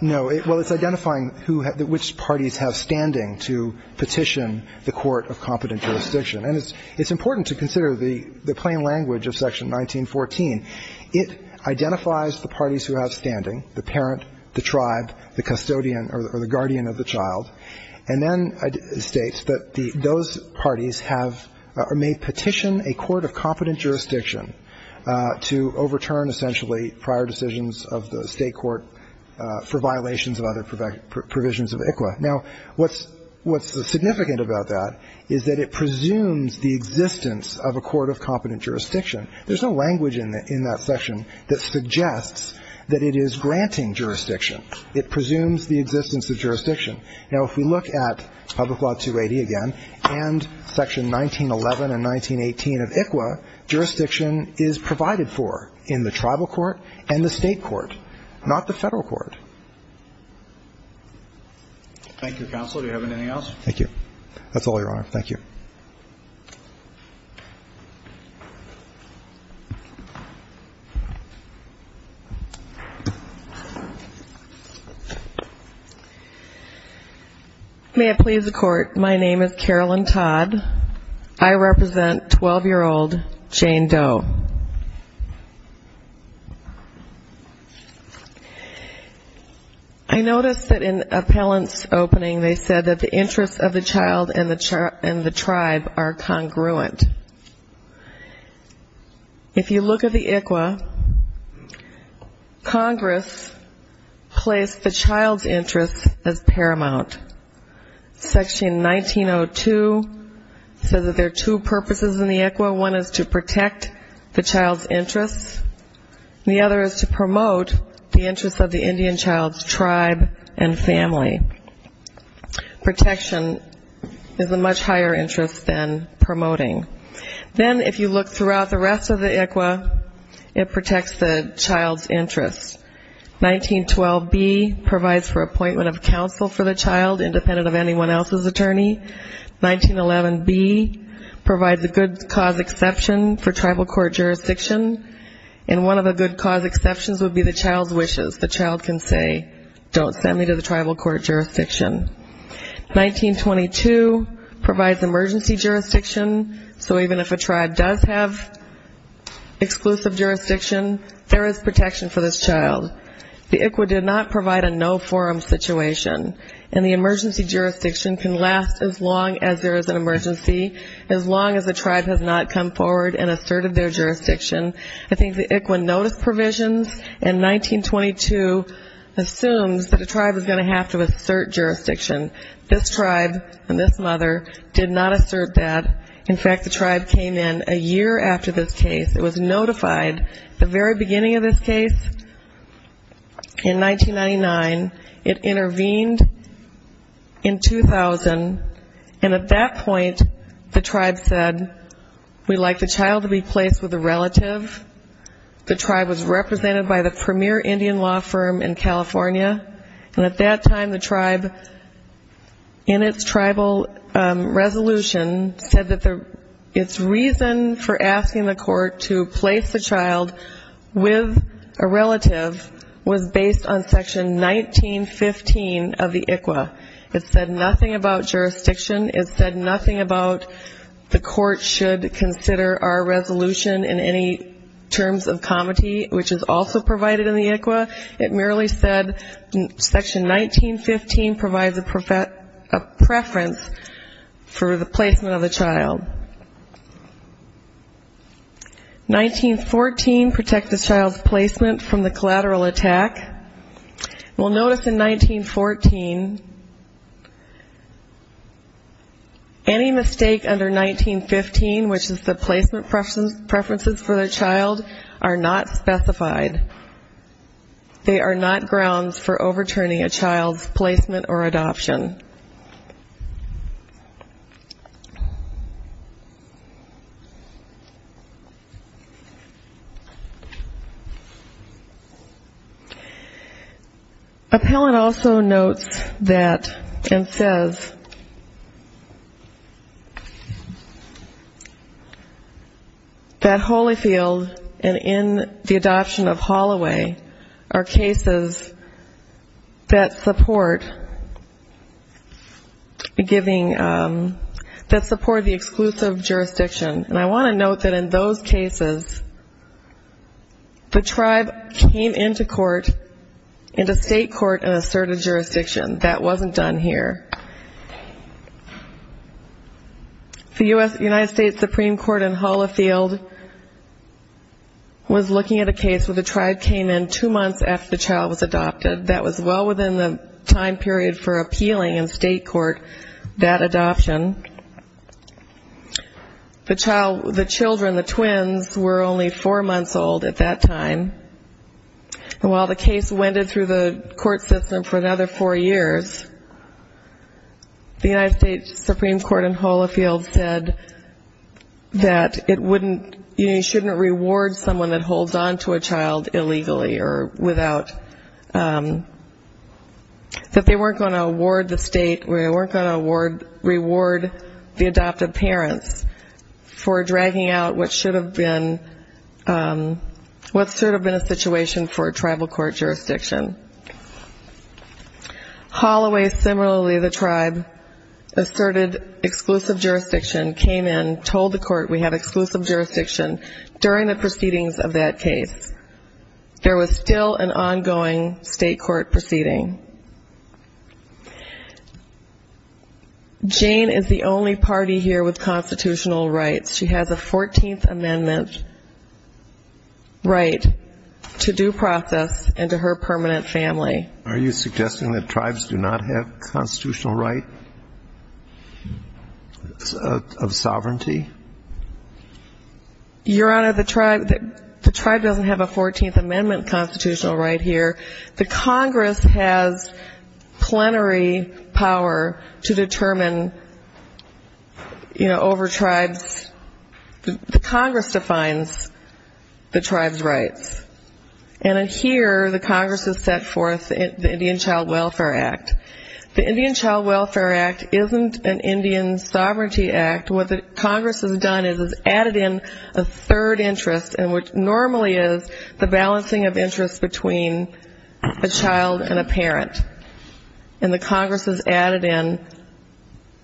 No. Well, it's identifying who has the – which parties have standing to petition the court of competent jurisdiction. And it's important to consider the plain language of Section 1914. It identifies the parties who have standing, the parent, the tribe, the custodian or the guardian of the child, and then it states that those parties have or may petition a court of competent jurisdiction to overturn essentially prior decisions of the State court for violations of other provisions of ICWA. Now, what's significant about that is that it presumes the existence of a court of competent jurisdiction. There's no language in that section that suggests that it is granting jurisdiction. It presumes the existence of jurisdiction. Now, if we look at Public Law 280 again and Section 1911 and 1918 of ICWA, jurisdiction is provided for in the tribal court and the State court, not the Federal court. Thank you, Counsel. Do you have anything else? Thank you. That's all, Your Honor. Thank you. May it please the Court, my name is Carolyn Todd. I represent 12-year-old Jane Doe. I noticed that in appellant's opening they said that the interests of the child and the tribe are congruent. If you look at the ICWA, Congress placed the child's interests as paramount. Section 1902 says that there are two purposes in the ICWA. One is to protect the child's interests. The other is to promote the interests of the Indian child's tribe and family. Protection is a much higher interest than promoting. Then if you look throughout the rest of the ICWA, it protects the child's interests. 1912B provides for appointment of counsel for the child, independent of anyone else's attorney. 1911B provides a good cause exception for tribal court jurisdiction, and one of the good cause exceptions would be the child's wishes. The child can say, don't send me to the tribal court jurisdiction. 1922 provides emergency jurisdiction, so even if a tribe does have exclusive jurisdiction, there is protection for this child. The ICWA did not provide a no-forum situation, and the emergency jurisdiction can last as long as there is an emergency, as long as a tribe has not come forward and asserted their jurisdiction. I think the ICWA notice provisions in 1922 assumes that a tribe is going to have to assert jurisdiction. This tribe and this mother did not assert that. In fact, the tribe came in a year after this case. It was notified at the very beginning of this case in 1999. It intervened in 2000, and at that point the tribe said, we'd like the child to be placed with a relative. The tribe was represented by the premier Indian law firm in California, and at that time the tribe, in its tribal resolution, said that its reason for asking the court to place the child with a relative was based on section 1915 of the ICWA. It said nothing about jurisdiction. It said nothing about the court should consider our resolution in any terms of comity, which is also provided in the ICWA. It merely said section 1915 provides a preference for the placement of the child. 1914 protects the child's placement from the collateral attack. We'll notice in 1914, any mistake under 1915, which is the placement preferences for the child, are not specified. They are not grounds for overturning a child's placement or adoption. Appellant also notes that and says that Holyfield and in the adoption of Holloway are cases that support the exclusion of the child. And I want to note that in those cases, the tribe came into court, into state court, and asserted jurisdiction. That wasn't done here. The United States Supreme Court in Holloway was looking at a case where the tribe came in two months after the child was adopted. That was well within the time period for appealing in state court that adoption. The child, the children, the twins, were only four months old at that time. And while the case wended through the court system for another four years, the United States Supreme Court in Holloway said that it wouldn't, you shouldn't reward someone that holds on to a child illegally or without, that they weren't going to reward the adoptive parents for dragging out what should have been, what should have been a situation for a tribal court jurisdiction. Holloway, similarly the tribe, asserted exclusive jurisdiction, came in, told the court we have exclusive jurisdiction during the proceedings of that case. There was still an ongoing state court proceeding. Jane is the only party here with constitutional rights. She has a 14th Amendment right to due process and to her permanent family. Are you suggesting that tribes do not have constitutional right of sovereignty? Your Honor, the tribe doesn't have a 14th Amendment constitutional right here. The Congress has plenary power to determine, you know, over tribes. The Congress defines the tribe's rights. And here the Congress has set forth the Indian Child Welfare Act. The Indian Child Welfare Act isn't an Indian sovereignty act. What the Congress has done is added in a third interest, and which normally is the balancing of interests between a child and a parent. And the Congress has added in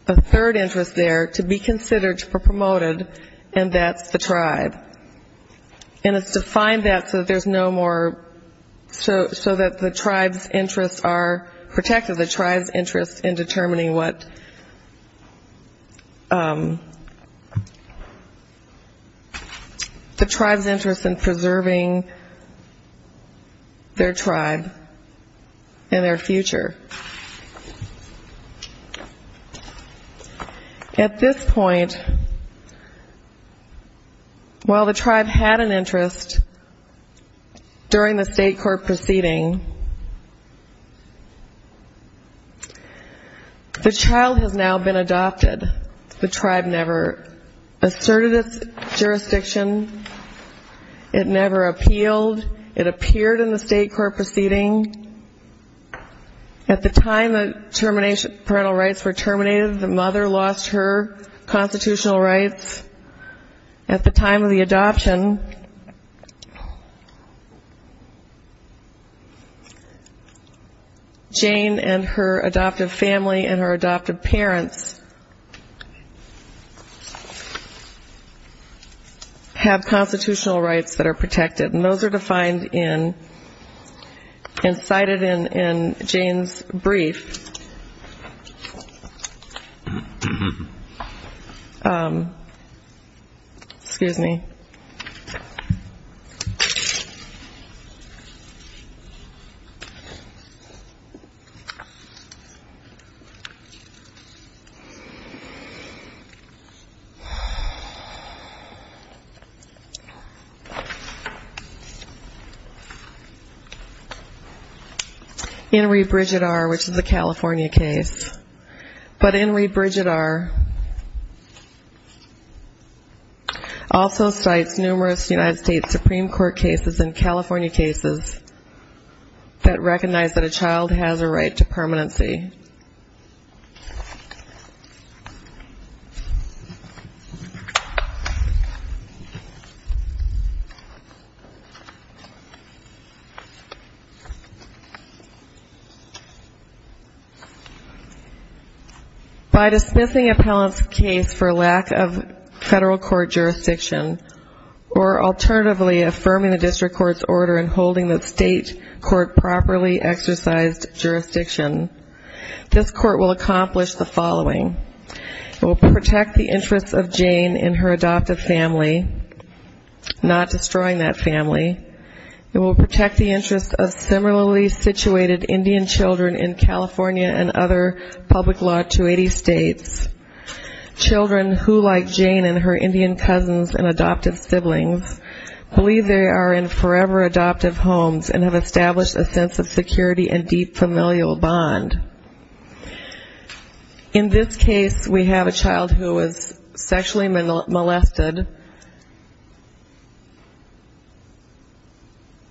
a third interest there to be considered for promoted, and that's the tribe. And it's defined that so that there's no more, so that the tribe's interests are protected. And it defines the tribe's interest in determining what the tribe's interest in preserving their tribe and their future. At this point, while the tribe had an interest during the state court proceeding, the child has now been adopted. The tribe never asserted its jurisdiction. It never appealed. It appeared in the state court proceeding. At the time the parental rights were terminated, the mother lost her constitutional rights. At the time of the adoption, Jane and her adoptive family and her adoptive parents have constitutional rights that are protected. And those are defined in, and cited in Jane's brief. Excuse me. In rebrigadar, which is a California case, but in rebrigadar, also cites numerous United States Supreme Court cases and California cases that recognize that a child has a right to permanency. By dismissing a parent's case for lack of federal court jurisdiction, or alternatively affirming the district court's order and holding the state court properly exercised jurisdiction, this court will accomplish the following. It will protect the interests of Jane and her adoptive family, not destroying that family. Children who, like Jane and her Indian cousins and adoptive siblings, believe they are in forever adoptive homes and have established a sense of security and deep familial bond. In this case, we have a child who is sexually molested.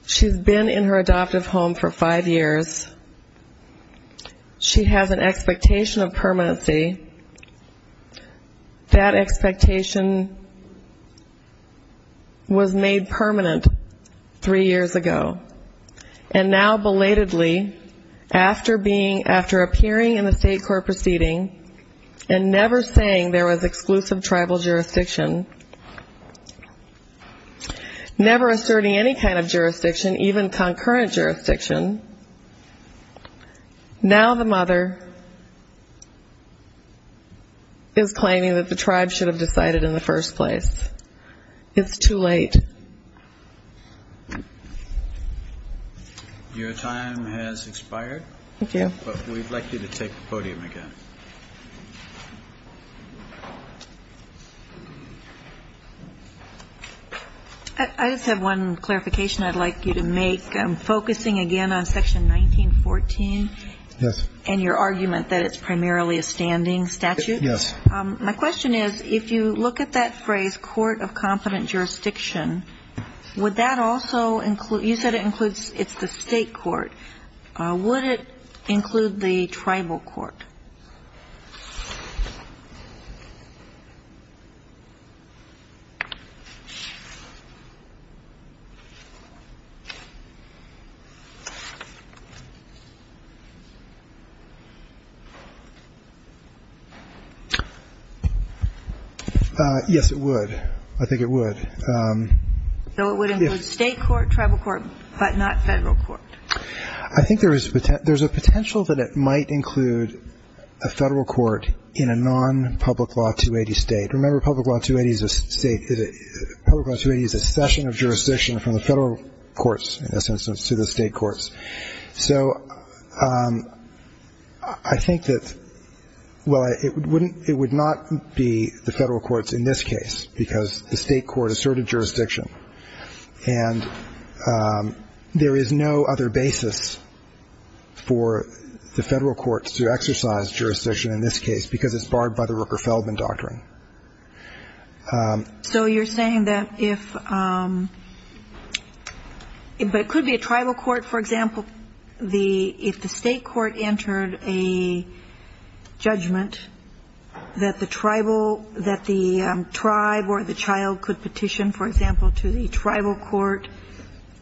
She's been in her adoptive home for five years. She has an expectation of permanency. That expectation was made permanent three years ago. And now, belatedly, after appearing in the state court proceeding and never saying there was exclusive tribal jurisdiction, never asserting any kind of jurisdiction, even concurrent jurisdiction, now the mother is claiming that the tribe should have decided in the first place. It's too late. Your time has expired, but we'd like you to take the podium again. I just have one clarification I'd like you to make. I'm focusing again on Section 1914 and your argument that it's primarily a standing statute. My question is, if you look at that phrase, court of confident jurisdiction, would that also include, you said it includes, it's the state court, would it include the tribal court? Yes, it would. I think it would. So it would include state court, tribal court, but not federal court? I think there's a potential that it might include a federal court in a non-Public Law 280 state. Remember, Public Law 280 is a session of jurisdiction from the federal courts, in this instance, to the state courts. So I think that, well, it would not be the federal courts in this case, because the state court asserted jurisdiction, and there is no other basis for the federal courts to exercise jurisdiction in this case, because it's barred by the Rooker-Feldman Doctrine. So you're saying that if, but it could be a tribal court, for example, if the state court entered a judgment that the tribal, that the tribe or the child could petition, for example, to the tribal court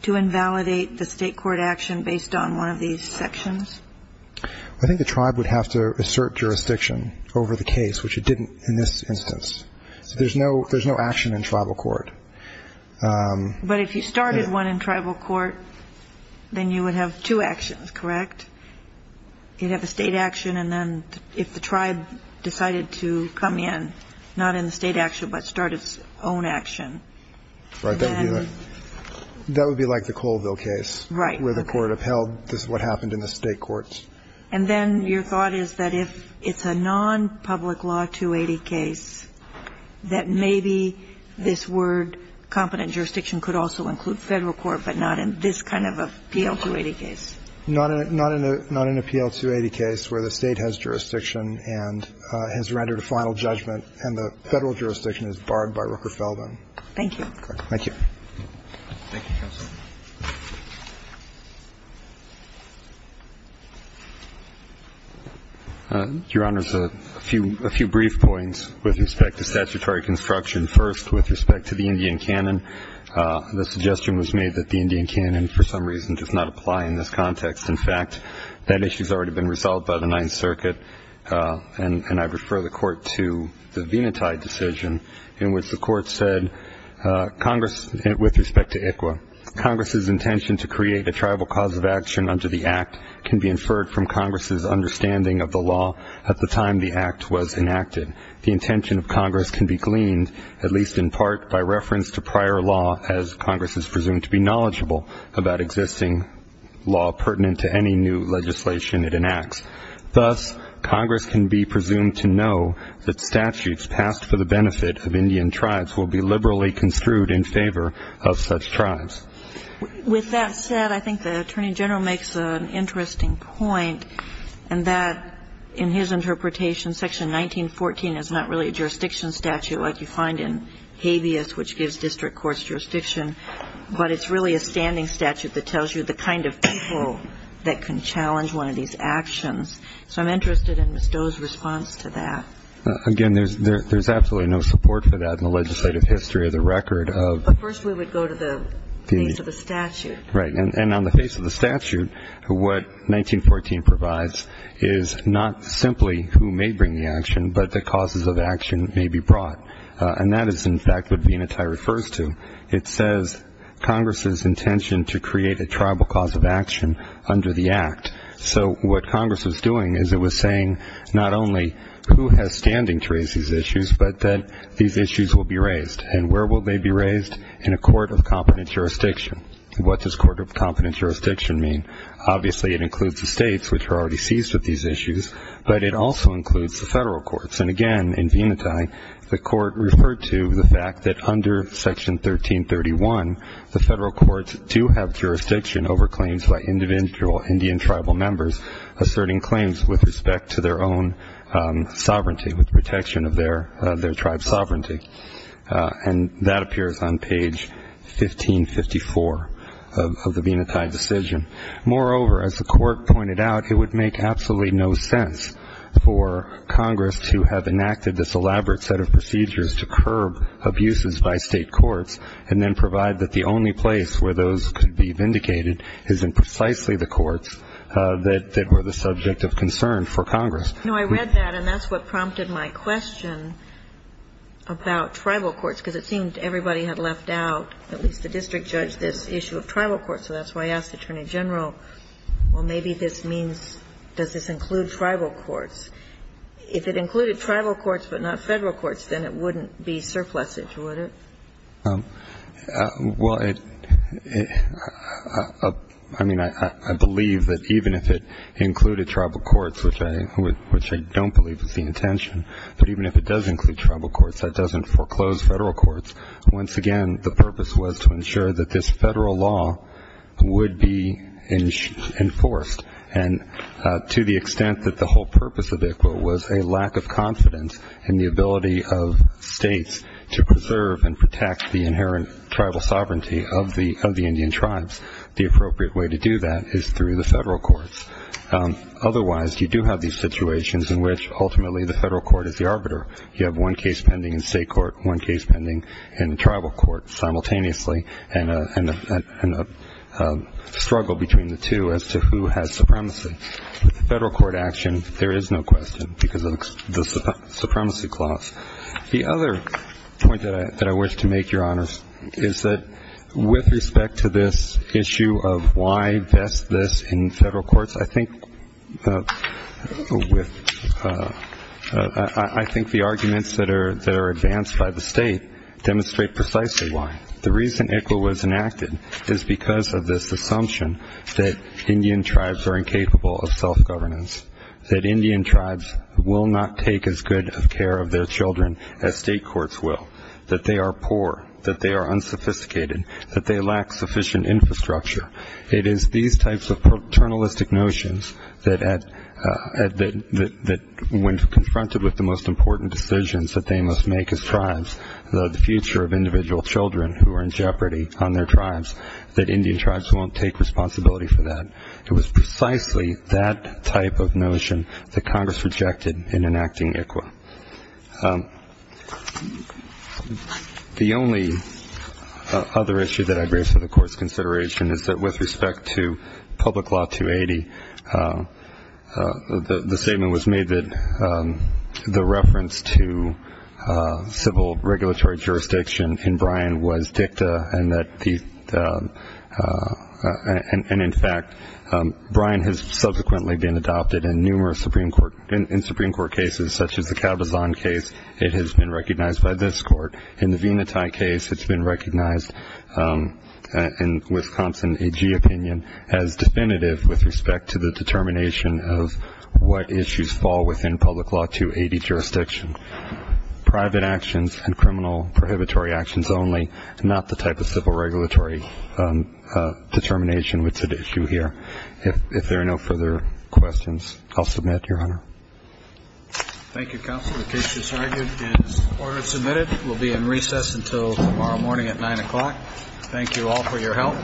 to invalidate the state court action based on one of these sections? I think the tribe would have to assert jurisdiction over the case, which it didn't in this instance. So there's no action in tribal court. But if you started one in tribal court, then you would have two actions, correct? You'd have a state action, and then if the tribe decided to come in, not in the state action, but start its own action. Right. That would be like the Colville case. Right. Where the court upheld what happened in the state courts. And then your thought is that if it's a nonpublic law 280 case, that maybe this word competent jurisdiction could also include federal court, but not in this kind of a PL-280 case. Not in a PL-280 case where the state has jurisdiction and has rendered a final judgment and the federal jurisdiction is barred by Rooker-Feldman. Thank you. Thank you. Thank you, counsel. Your Honors, a few brief points with respect to statutory construction. First, with respect to the Indian canon, the suggestion was made that the Indian canon for some reason does not apply in this context. In fact, that issue has already been resolved by the Ninth Circuit, and I refer the court to the Venati decision in which the court said, with respect to ICWA, Congress's intention to create a tribal cause of action under the Act can be inferred from Congress's understanding of the law at the time the Act was enacted. The intention of Congress can be gleaned, at least in part by reference to prior law as Congress is presumed to be knowledgeable about existing law pertinent to any new legislation it enacts. Thus, Congress can be presumed to know that statutes passed for the benefit of Indian tribes will be liberally construed in favor of such tribes. With that said, I think the Attorney General makes an interesting point, and that, in his interpretation, Section 1914 is not really a jurisdiction statute like you find in habeas, which gives district courts jurisdiction, but it's really a standing statute that tells you the kind of people that can So I'm interested in Ms. Doe's response to that. Again, there's absolutely no support for that in the legislative history of the record. But first we would go to the face of the statute. Right. And on the face of the statute, what 1914 provides is not simply who may bring the action, but the causes of action may be brought. And that is, in fact, what Venati refers to. It says Congress's intention to create a tribal cause of action under the Act. So what Congress is doing is it was saying not only who has standing to raise these issues, but that these issues will be raised. And where will they be raised? In a court of competent jurisdiction. What does court of competent jurisdiction mean? Obviously it includes the states, which are already seized with these issues, but it also includes the federal courts. And, again, in Venati, the court referred to the fact that under Section 1331, the federal courts do have jurisdiction over claims by individual Indian tribal members asserting claims with respect to their own sovereignty, with protection of their tribe's sovereignty. And that appears on page 1554 of the Venati decision. Moreover, as the court pointed out, it would make absolutely no sense for Congress to have enacted this elaborate set of procedures to curb abuses by state courts and then provide that the only place where those could be vindicated is in precisely the courts that were the subject of concern for Congress. You know, I read that, and that's what prompted my question about tribal courts, because it seemed everybody had left out, at least the district judge, this issue of tribal courts. So that's why I asked Attorney General, well, maybe this means does this include tribal courts? If it included tribal courts but not federal courts, then it wouldn't be surplusage, would it? Well, I mean, I believe that even if it included tribal courts, which I don't believe was the intention, but even if it does include tribal courts, that doesn't foreclose federal courts. Once again, the purpose was to ensure that this federal law would be enforced. And to the extent that the whole purpose of ICCWA was a lack of confidence in the ability of states to preserve and protect the inherent tribal sovereignty of the Indian tribes, the appropriate way to do that is through the federal courts. Otherwise, you do have these situations in which ultimately the federal court is the arbiter. You have one case pending in state court, one case pending in tribal court simultaneously, and a struggle between the two as to who has supremacy. With the federal court action, there is no question because of the supremacy clause. The other point that I wish to make, Your Honors, is that with respect to this issue of why best this in federal courts, I think the arguments that are advanced by the state demonstrate precisely why. The reason ICCWA was enacted is because of this assumption that Indian tribes are incapable of self-governance, that Indian tribes will not take as good of care of their children as state courts will, that they are poor, that they are unsophisticated, that they lack sufficient infrastructure. It is these types of paternalistic notions that when confronted with the most important decisions that they must make as tribes, the future of individual children who are in jeopardy on their tribes, that Indian tribes won't take responsibility for that. It was precisely that type of notion that Congress rejected in enacting ICCWA. The only other issue that I raise for the Court's consideration is that with respect to Public Law 280, civil regulatory jurisdiction in Bryan was dicta, and in fact, Bryan has subsequently been adopted in numerous Supreme Court cases, such as the Cabazon case. It has been recognized by this Court. In the Venati case, it's been recognized in Wisconsin AG opinion as definitive with respect to the determination of what issues fall within Public Law 280 jurisdiction. Private actions and criminal prohibitory actions only, not the type of civil regulatory determination which is at issue here. If there are no further questions, I'll submit, Your Honor. Thank you, Counsel. The case is argued and order submitted. We'll be in recess until tomorrow morning at 9 o'clock. Thank you all for your help. Thank you. Thank you.